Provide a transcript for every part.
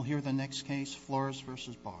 We'll hear the next case, Flores v. Barr.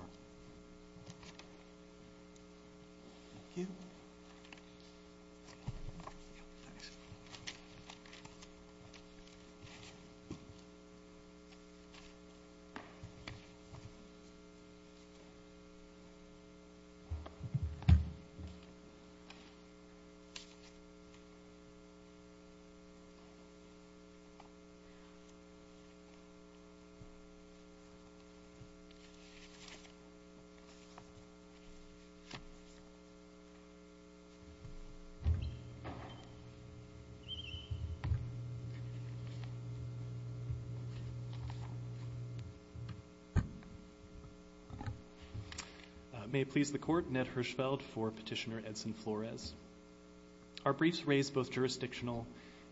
May it please the Court, Ned Hirschfeld for Petitioner Edson Flores. Our briefs raise both jurisdictional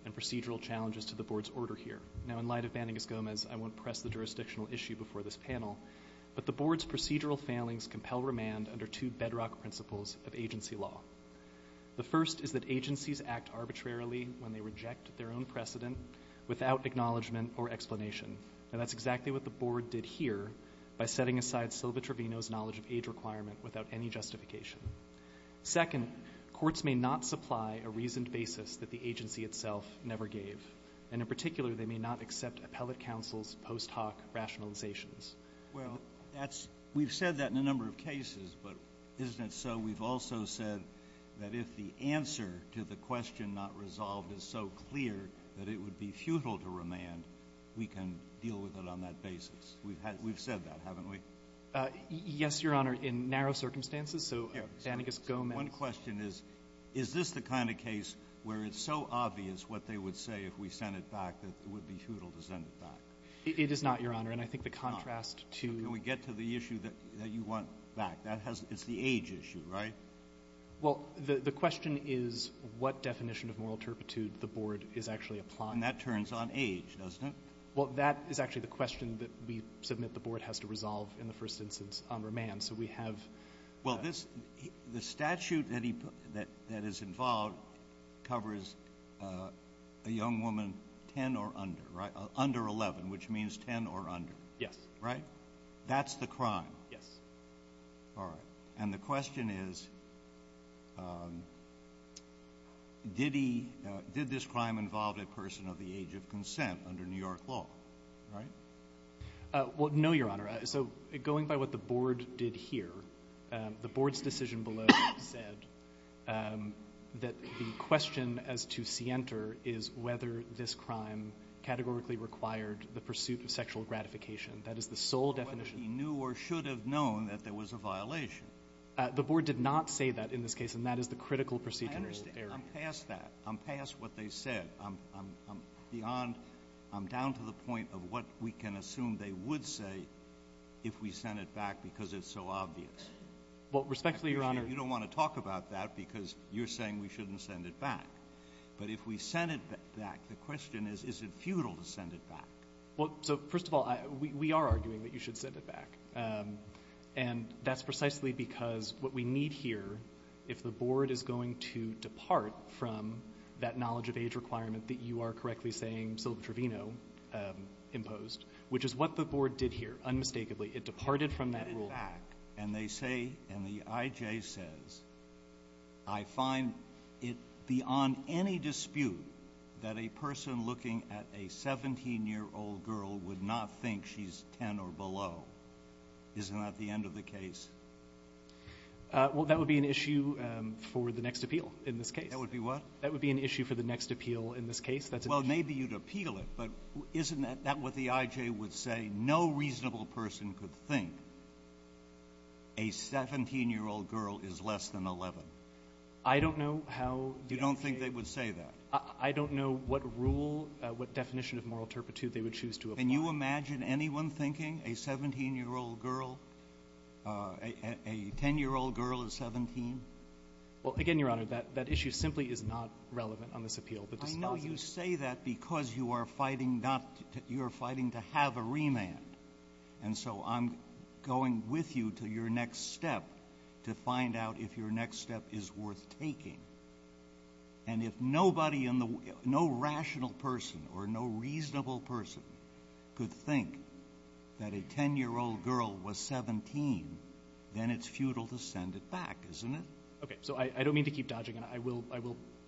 and procedural challenges to the Board's order here. Now, in light of Banning v. Gomez, I won't press the jurisdictional issue before this panel, but the Board's procedural failings compel remand under two bedrock principles of agency law. The first is that agencies act arbitrarily when they reject their own precedent without acknowledgment or explanation, and that's exactly what the Board did here by setting aside Sylva Trevino's knowledge of age requirement without any justification. Second, courts may not supply a reasoned basis that the agency itself never gave, and in fact, courts may not accept appellate counsel's post-hoc rationalizations. Well, that's we've said that in a number of cases, but isn't it so we've also said that if the answer to the question not resolved is so clear that it would be futile to remand, we can deal with it on that basis. We've had we've said that, haven't we? Yes, Your Honor, in narrow circumstances. So Banning v. Gomez. One question is, is this the kind of case where it's so obvious what they would say if we sent it back that it would be futile to send it back? It is not, Your Honor. And I think the contrast to the issue that you want back, that has it's the age issue, right? Well, the question is what definition of moral turpitude the Board is actually applying. And that turns on age, doesn't it? Well, that is actually the question that we submit the Board has to resolve in the first instance on remand. So we have the statute that he put that is involved covers a young woman 10 or under, right? Under 11, which means 10 or under. Yes. Right? That's the crime. Yes. All right. And the question is, did he, did this crime involve a person of the age of consent under New York law, right? Well, no, Your Honor. So going by what the Board did here, the Board's decision below said that the question as to scienter is whether this crime categorically required the pursuit of sexual gratification. That is the sole definition. But whether he knew or should have known that there was a violation. The Board did not say that in this case, and that is the critical procedural error. I understand. I'm past that. I'm past what they said. I'm beyond, I'm down to the point of what we can assume they would say if we sent it back because it's so obvious. Well, respectfully, Your Honor. You don't want to talk about that because you're saying we shouldn't send it back. But if we sent it back, the question is, is it futile to send it back? Well, so first of all, we are arguing that you should send it back. And that's precisely because what we need here, if the Board is going to depart from that knowledge of age requirement that you are correctly saying, Silva-Trevino imposed, which is what the Board did here unmistakably. It departed from that rule. If we send it back and they say, and the I.J. says, I find it beyond any dispute that a person looking at a 17-year-old girl would not think she's 10 or below, isn't that the end of the case? Well, that would be an issue for the next appeal in this case. That would be what? That would be an issue for the next appeal in this case. Well, maybe you'd appeal it, but isn't that what the I.J. would say? No reasonable person could think a 17-year-old girl is less than 11. I don't know how the I.J. You don't think they would say that? I don't know what rule, what definition of moral turpitude they would choose to apply. Can you imagine anyone thinking a 17-year-old girl, a 10-year-old girl is 17? Well, again, Your Honor, that issue simply is not relevant on this appeal. I know you say that because you are fighting not to – you are fighting to have a remand, and so I'm going with you to your next step to find out if your next step is worth taking. And if nobody in the – no rational person or no reasonable person could think that a 10-year-old girl was 17, then it's futile to send it back, isn't it? Okay. So I don't mean to keep dodging, and I will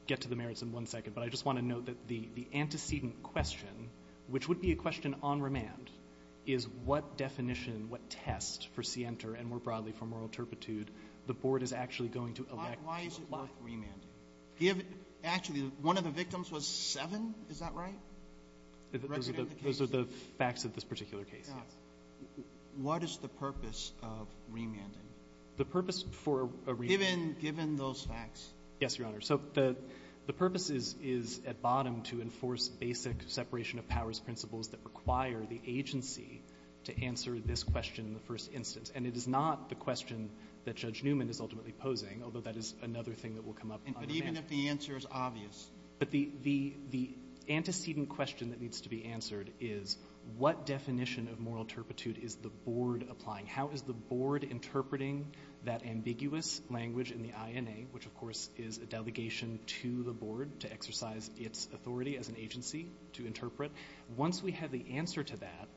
get to the merits in one second, but I just would be a question on remand, is what definition, what test for scienter and, more broadly, for moral turpitude the Board is actually going to elect to apply? Why is it worth remanding? Actually, one of the victims was 7, is that right? Those are the facts of this particular case, yes. Now, what is the purpose of remanding? The purpose for a remand – Given those facts. Yes, Your Honor. So the purpose is at bottom to enforce basic separation of powers principles that require the agency to answer this question in the first instance. And it is not the question that Judge Newman is ultimately posing, although that is another thing that will come up on remand. But even if the answer is obvious? But the antecedent question that needs to be answered is what definition of moral turpitude is the Board applying? The answer is a delegation to the Board to exercise its authority as an agency to interpret. Once we have the answer to that,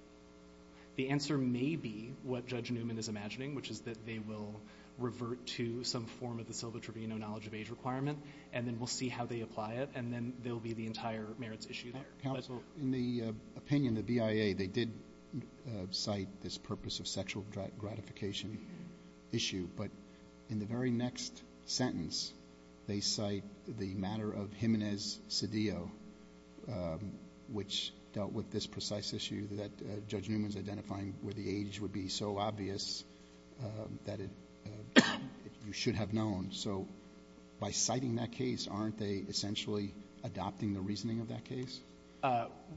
the answer may be what Judge Newman is imagining, which is that they will revert to some form of the Silva-Trevino knowledge-of-age requirement, and then we'll see how they apply it, and then there will be the entire merits issue there. In the opinion of the BIA, they did cite this purpose of sexual gratification issue, but in the very next sentence, they cite the matter of Jimenez-Cedillo, which dealt with this precise issue that Judge Newman is identifying, where the age would be so obvious that it you should have known. So by citing that case, aren't they essentially adopting the reasoning of that case?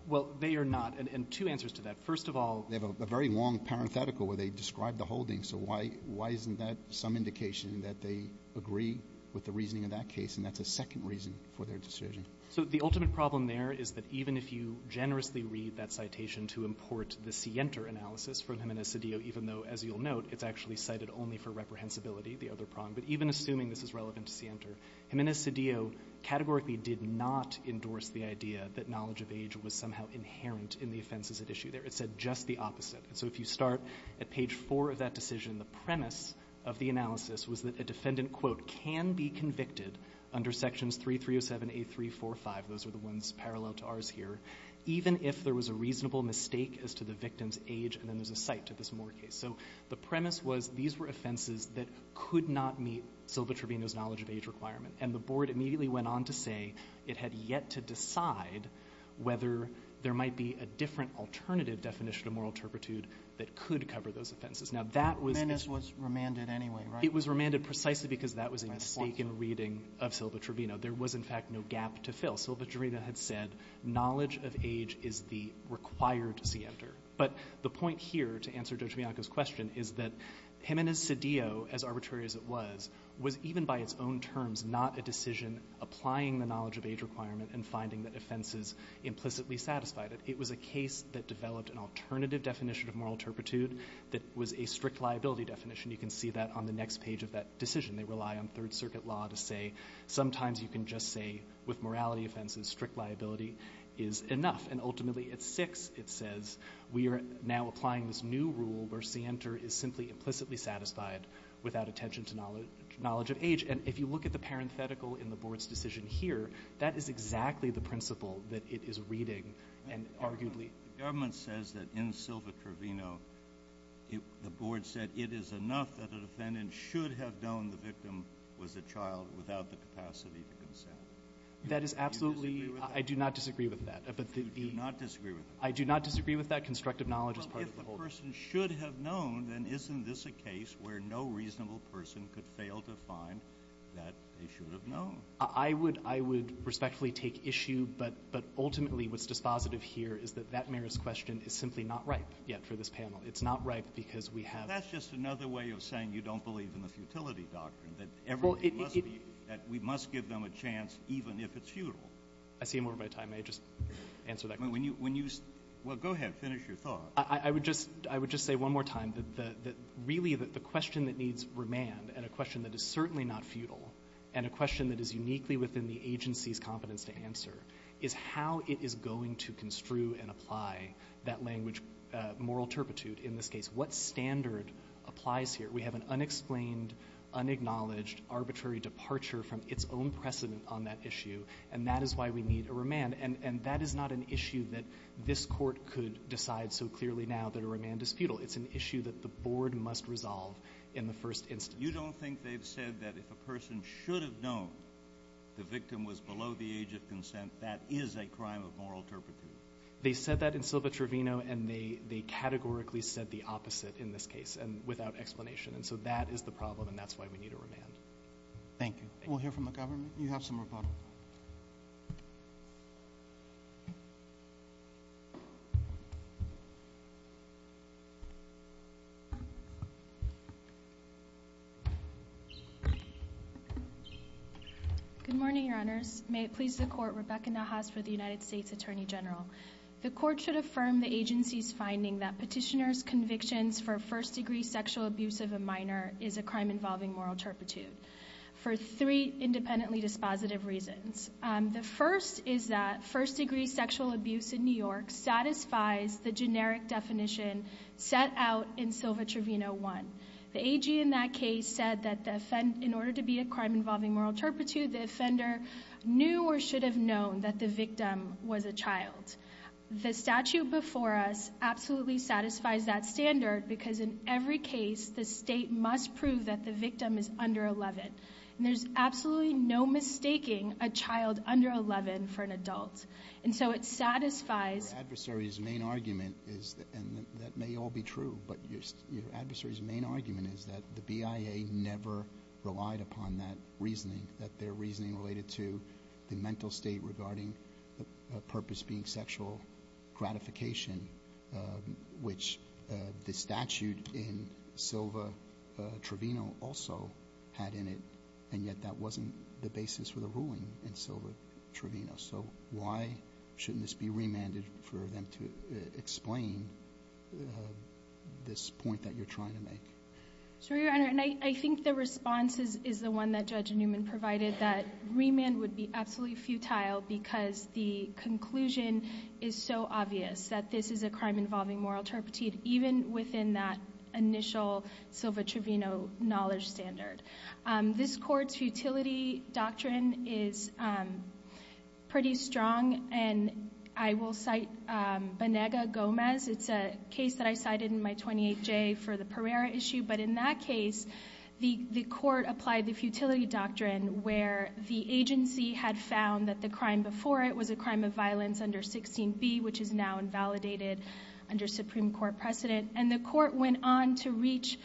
Well, they are not. And two answers to that. First of all, they have a very long parenthetical where they describe the holding. So why isn't that some indication that they agree with the reasoning of that case? And that's a second reason for their decision. So the ultimate problem there is that even if you generously read that citation to import the Sienter analysis from Jimenez-Cedillo, even though, as you'll note, it's actually cited only for reprehensibility, the other prong, but even assuming this is relevant to Sienter, Jimenez-Cedillo categorically did not endorse the idea that knowledge-of-age was somehow inherent in the offenses at issue there. It said just the opposite. And so if you start at page four of that decision, the premise of the analysis was that a defendant, quote, can be convicted under sections 3307A345, those are the ones parallel to ours here, even if there was a reasonable mistake as to the victim's age, and then there's a cite to this Moore case. So the premise was these were offenses that could not meet Silva-Trevino's knowledge-of-age requirement. And the board immediately went on to say it had yet to decide whether there might be a different alternative definition of moral turpitude that could cover those offenses. Now, that was the one that was remanded anyway, right? It was remanded precisely because that was a mistaken reading of Silva-Trevino. There was, in fact, no gap to fill. Silva-Trevino had said knowledge-of-age is the required Sienter. But the point here, to answer Judge Bianco's question, is that Jimenez-Cedillo, as arbitrary as it was, was even by its own terms not a decision applying the knowledge-of-age requirement and finding that offenses implicitly satisfied it. It was a case that developed an alternative definition of moral turpitude that was a strict liability definition. You can see that on the next page of that decision. They rely on Third Circuit law to say sometimes you can just say with morality offenses, strict liability is enough. And ultimately, at six, it says we are now applying this new rule where Sienter is simply implicitly satisfied without attention to knowledge-of-age. And if you look at the parenthetical in the board's decision here, that is exactly the case, arguably. The government says that in Silva-Trevino, the board said it is enough that a defendant should have known the victim was a child without the capacity to consent. That is absolutely — Do you disagree with that? I do not disagree with that. But the — You do not disagree with that? I do not disagree with that. Constructive knowledge is part of the whole — Well, if the person should have known, then isn't this a case where no reasonable person could fail to find that they should have known? I would — I would respectfully take issue, but — but ultimately, what's dispositive here is that that merits question is simply not ripe yet for this panel. It's not ripe because we have — Well, that's just another way of saying you don't believe in the futility doctrine, that everything must be — that we must give them a chance even if it's futile. I see I'm over my time. May I just answer that question? When you — when you — well, go ahead. Finish your thought. I would just — I would just say one more time that the — that really, the question that needs remand and a question that is certainly not futile and a question that is uniquely within the agency's competence to answer is how it is going to construe and apply that language, moral turpitude, in this case. What standard applies here? We have an unexplained, unacknowledged, arbitrary departure from its own precedent on that issue, and that is why we need a remand. And that is not an issue that this Court could decide so clearly now that a remand is futile. It's an issue that the Board must resolve in the first instance. You don't think they've said that if a person should have known the victim was below the age of consent, that is a crime of moral turpitude? They said that in Silva-Trevino, and they categorically said the opposite in this case and without explanation. And so that is the problem, and that's why we need a remand. Thank you. We'll hear from the government. You have some rebuttal. Good morning, Your Honors. May it please the Court, Rebecca Nahas for the United States Attorney General. The Court should affirm the agency's finding that petitioner's convictions for first-degree sexual abuse of a minor is a crime involving moral turpitude for three independently dispositive reasons. The first is that first-degree sexual abuse in New York satisfies the generic definition set out in Silva-Trevino 1. The AG in that case said that in order to be a crime involving moral turpitude, the offender knew or should have known that the victim was a child. The statute before us absolutely satisfies that standard because in every case, the state must prove that the victim is under 11. And there's absolutely no mistaking a child under 11 for an adult. And so it satisfies— Your adversary's main argument is, and that may all be true, but your adversary's main argument is that the BIA never relied upon that reasoning, that their reasoning related to the mental state regarding a purpose being sexual gratification, which the statute in Silva-Trevino also had in it, and yet that wasn't the basis for the ruling in Silva-Trevino. So why shouldn't this be remanded for them to explain this point that you're trying to make? So, Your Honor, I think the response is the one that Judge Newman provided, that remand would be absolutely futile because the conclusion is so obvious that this is a crime involving moral turpitude, even within that initial Silva-Trevino knowledge standard. This Court's futility doctrine is pretty strong, and I will cite Banega-Gomez. It's a case that I cited in my 28-J for the Pereira issue. But in that case, the Court applied the futility doctrine where the agency had found that the crime before it was a crime of violence under 16b, which is now invalidated under Supreme Court precedent. And the Court went on to reach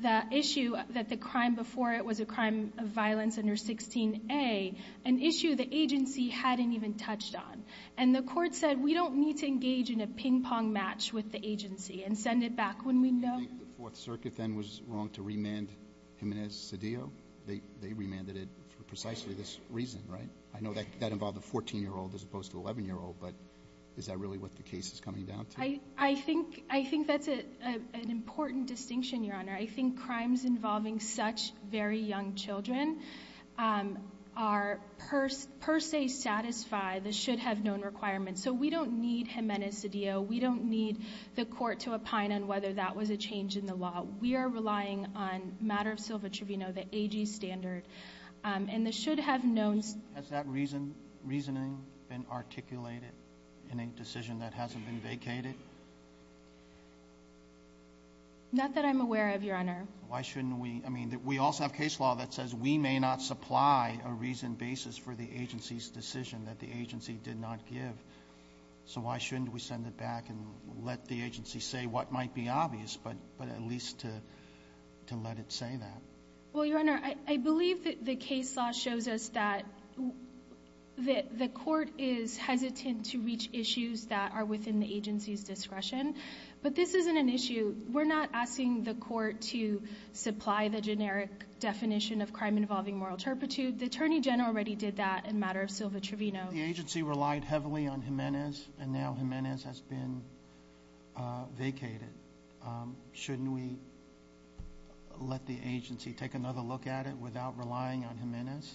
the issue that the crime before it was a crime of violence under 16a, an issue the agency hadn't even touched on. And the Court said, we don't need to engage in a ping-pong match with the agency and send it back when we know. Do you think the Fourth Circuit then was wrong to remand Jimenez-Cedillo? They remanded it for precisely this reason, right? I know that that involved a 14-year-old as opposed to an 11-year-old, but is that really what the case is coming down to? I think that's an important distinction, Your Honor. I think crimes involving such very young children are per se satisfy the should-have-known requirements. So we don't need Jimenez-Cedillo. We don't need the Court to opine on whether that was a change in the law. We are relying on matter of silva trivino, the AG standard, and the should-have-knowns. Has that reasoning been articulated in a decision that hasn't been vacated? Not that I'm aware of, Your Honor. Why shouldn't we? I mean, we also have case law that says we may not supply a reasoned basis for the agency's decision that the agency did not give. So why shouldn't we send it back and let the agency say what might be obvious, but at least to let it say that? Well, Your Honor, I believe that the case law shows us that the Court is hesitant to reach issues that are within the agency's discretion. But this isn't an issue. We're not asking the Court to supply the generic definition of crime involving moral turpitude. The Attorney General already did that in matter of silva trivino. The agency relied heavily on Jimenez, and now Jimenez has been vacated. Shouldn't we let the agency take another look at it without relying on Jimenez?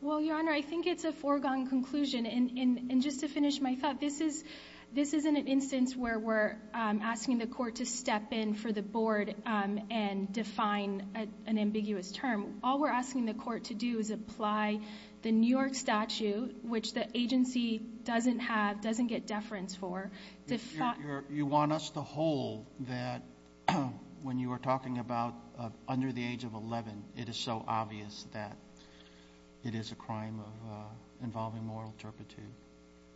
Well, Your Honor, I think it's a foregone conclusion. And just to finish my thought, this isn't an instance where we're asking the Court to step in for the Board and define an ambiguous term. All we're asking the Court to do is apply the New York statute, which the agency doesn't have, doesn't get deference for. You want us to hold that when you are talking about under the age of 11, it is so obvious that it is a crime involving moral turpitude?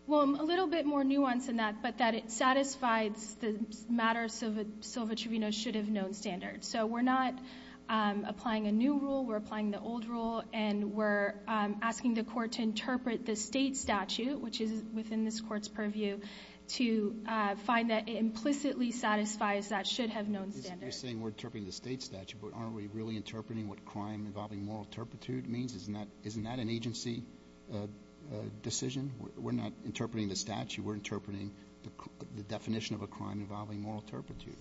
Well, a little bit more nuanced than that, but that it satisfies the matter of silva trivino should have known standards. So we're not applying a new rule. We're applying the old rule, and we're asking the Court to interpret the state statute, which is within this Court's purview, to find that it implicitly satisfies that should have known standards. You're saying we're interpreting the state statute, but aren't we really interpreting what crime involving moral turpitude means? Isn't that an agency decision? We're not interpreting the statute. We're interpreting the definition of a crime involving moral turpitude.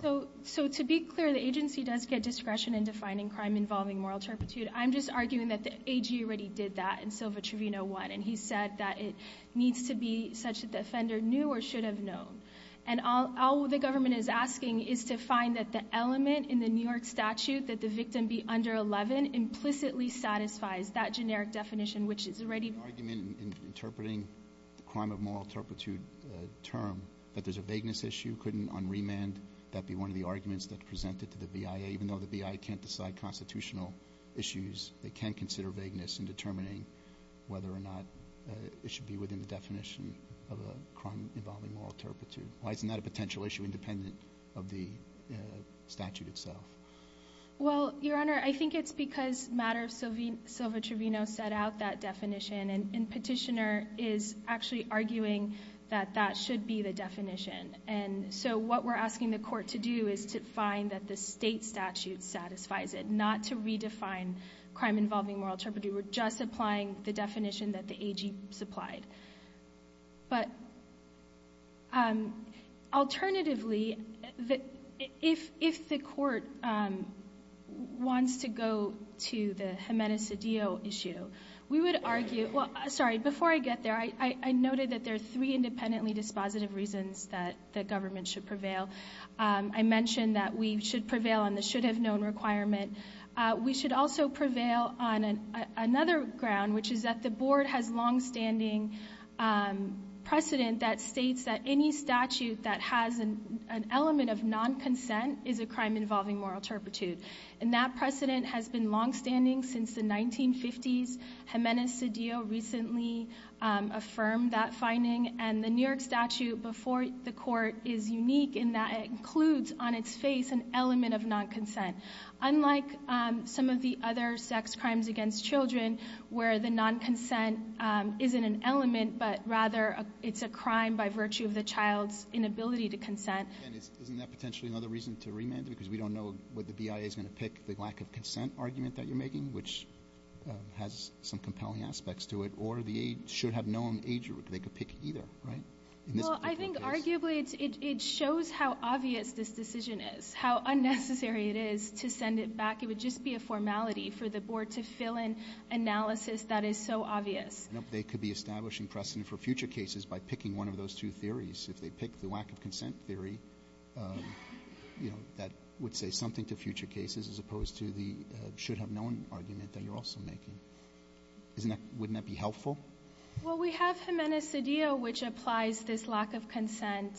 So to be clear, the agency does get discretion in defining crime involving moral turpitude. I'm just arguing that the AG already did that in silva trivino one, and he said that it needs to be such that the offender knew or should have known. And all the government is asking is to find that the element in the New York statute that the victim be under 11 implicitly satisfies that generic definition, which is already there. The argument in interpreting the crime of moral turpitude term that there's a vagueness issue couldn't, on remand, that be one of the arguments that presented to the BIA, even though the BIA can't decide constitutional issues, they can consider vagueness in determining whether or not it should be within the definition of a crime involving moral turpitude. Why isn't that a potential issue independent of the statute itself? Well, Your Honor, I think it's because matter of silva trivino set out that definition, and petitioner is actually arguing that that should be the definition. And so what we're asking the court to do is to find that the state statute satisfies it, not to redefine crime involving moral turpitude. We're just applying the definition that the AG supplied. But alternatively, if the court wants to go to the Jimenez-Cedillo issue, we would argue — well, sorry, before I get there, I noted that there are three independently dispositive reasons that the government should prevail. I mentioned that we should prevail on the should-have-known requirement. We should also prevail on another ground, which is that the board has longstanding precedent that states that any statute that has an element of non-consent is a crime involving moral turpitude. And that precedent has been longstanding since the 1950s. Jimenez-Cedillo recently affirmed that finding, and the New York statute before the court is unique in that it includes on its face an element of non-consent. Unlike some of the other sex crimes against children where the non-consent isn't an element, but rather it's a crime by virtue of the child's inability to consent. Roberts. Isn't that potentially another reason to remand it? Because we don't know what the BIA is going to pick, the lack of consent argument that you're making, which has some compelling aspects to it, or the should-have-known age they could pick either, right? Well, I think arguably it shows how obvious this decision is, how unnecessary it is to send it back. It would just be a formality for the board to fill in analysis that is so obvious. I know they could be establishing precedent for future cases by picking one of those two theories. If they pick the lack of consent theory, you know, that would say something to future cases as opposed to the should-have-known argument that you're also making. Isn't that — wouldn't that be helpful? Well, we have Jimenez-Cedillo, which applies this lack of consent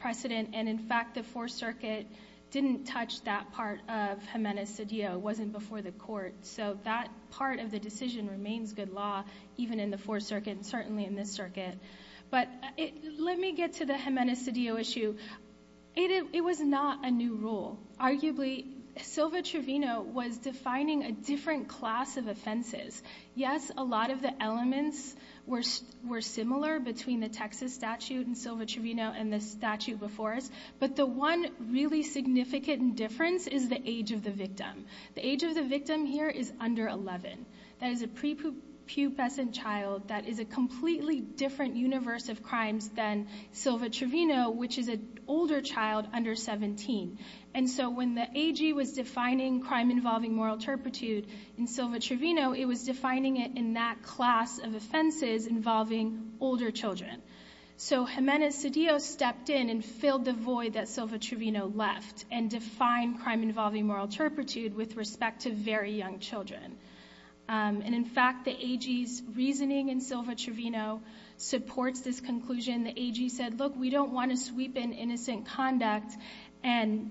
precedent. And in fact, the Fourth Circuit didn't touch that part of Jimenez-Cedillo. It wasn't before the court. So that part of the decision remains good law, even in the Fourth Circuit and certainly in this circuit. But let me get to the Jimenez-Cedillo issue. It was not a new rule. Arguably, Silva-Trevino was defining a different class of offenses. Yes, a lot of the elements were similar between the Texas statute and Silva-Trevino and the But the one really significant difference is the age of the victim. The age of the victim here is under 11. That is a prepupescent child that is a completely different universe of crimes than Silva-Trevino, which is an older child under 17. And so when the AG was defining crime involving moral turpitude in Silva-Trevino, it was defining it in that class of offenses involving older children. So Jimenez-Cedillo stepped in and filled the void that Silva-Trevino left and defined crime involving moral turpitude with respect to very young children. And in fact, the AG's reasoning in Silva-Trevino supports this conclusion. The AG said, look, we don't want to sweep in innocent conduct and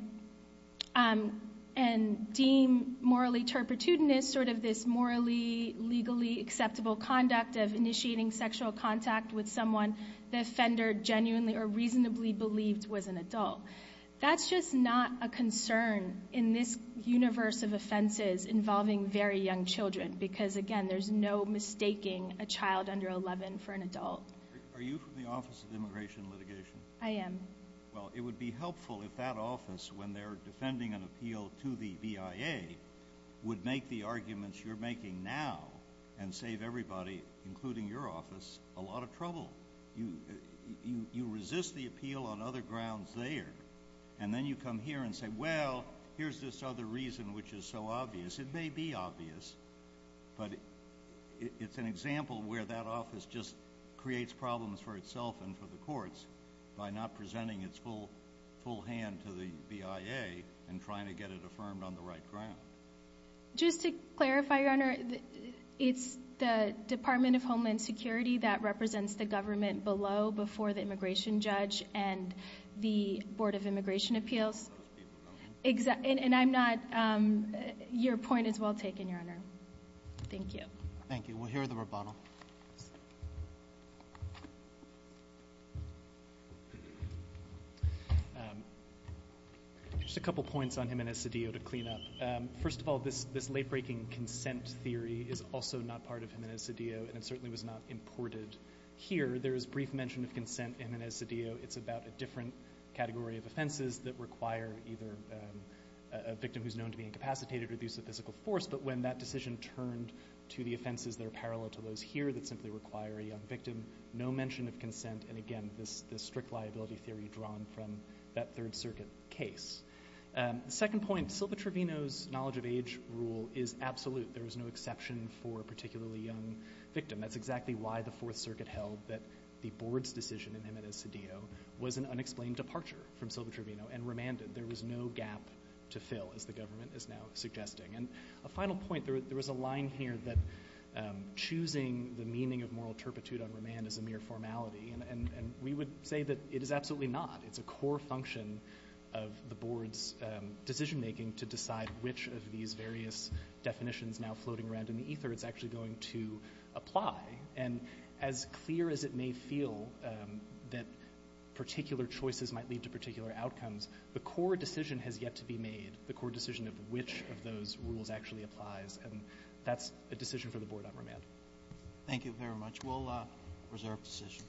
deem morally turpitudinous, sort of this morally, legally acceptable conduct of initiating sexual contact with someone the offender genuinely or reasonably believed was an adult. That's just not a concern in this universe of offenses involving very young children because, again, there's no mistaking a child under 11 for an adult. Are you from the Office of Immigration and Litigation? I am. Well, it would be helpful if that office, when they're defending an appeal to the BIA, would make the arguments you're making now and save everybody, including your office, a lot of trouble. You resist the appeal on other grounds there, and then you come here and say, well, here's this other reason which is so obvious. It may be obvious, but it's an example where that office just creates problems for itself and for the courts by not presenting its full hand to the BIA and trying to get it affirmed on the right ground. Just to clarify, Your Honor, it's the Department of Homeland Security that represents the government below before the immigration judge and the Board of Immigration Appeals. And I'm not—your point is well taken, Your Honor. Thank you. Thank you. We'll hear the rebuttal. Just a couple points on Jimenez-Cedillo to clean up. First of all, this late-breaking consent theory is also not part of Jimenez-Cedillo, and it certainly was not imported here. There is brief mention of consent in Jimenez-Cedillo. It's about a different category of offenses that require either a victim who's known to be incapacitated or abuse of physical force, but when that decision turned to the offenses that are parallel to those here that simply require a young victim, no mention of consent, and again, this strict liability theory drawn from that Third Circuit case. Second point, Silva-Trevino's knowledge-of-age rule is absolute. There is no exception for a particularly young victim. That's exactly why the Fourth Circuit held that the board's decision in Jimenez-Cedillo was an unexplained departure from Silva-Trevino and remanded. There was no gap to fill, as the government is now suggesting. And a final point, there was a line here that choosing the meaning of moral turpitude on remand is a mere formality, and we would say that it is absolutely not. It's a core function of the board's decision-making to decide which of these various definitions now floating around in the ether it's actually going to apply, and as clear as it may feel that particular choices might lead to particular outcomes, the core decision has yet to be made, the core decision of which of those rules actually applies, and that's a decision for the board on remand. Thank you very much. We'll reserve the session.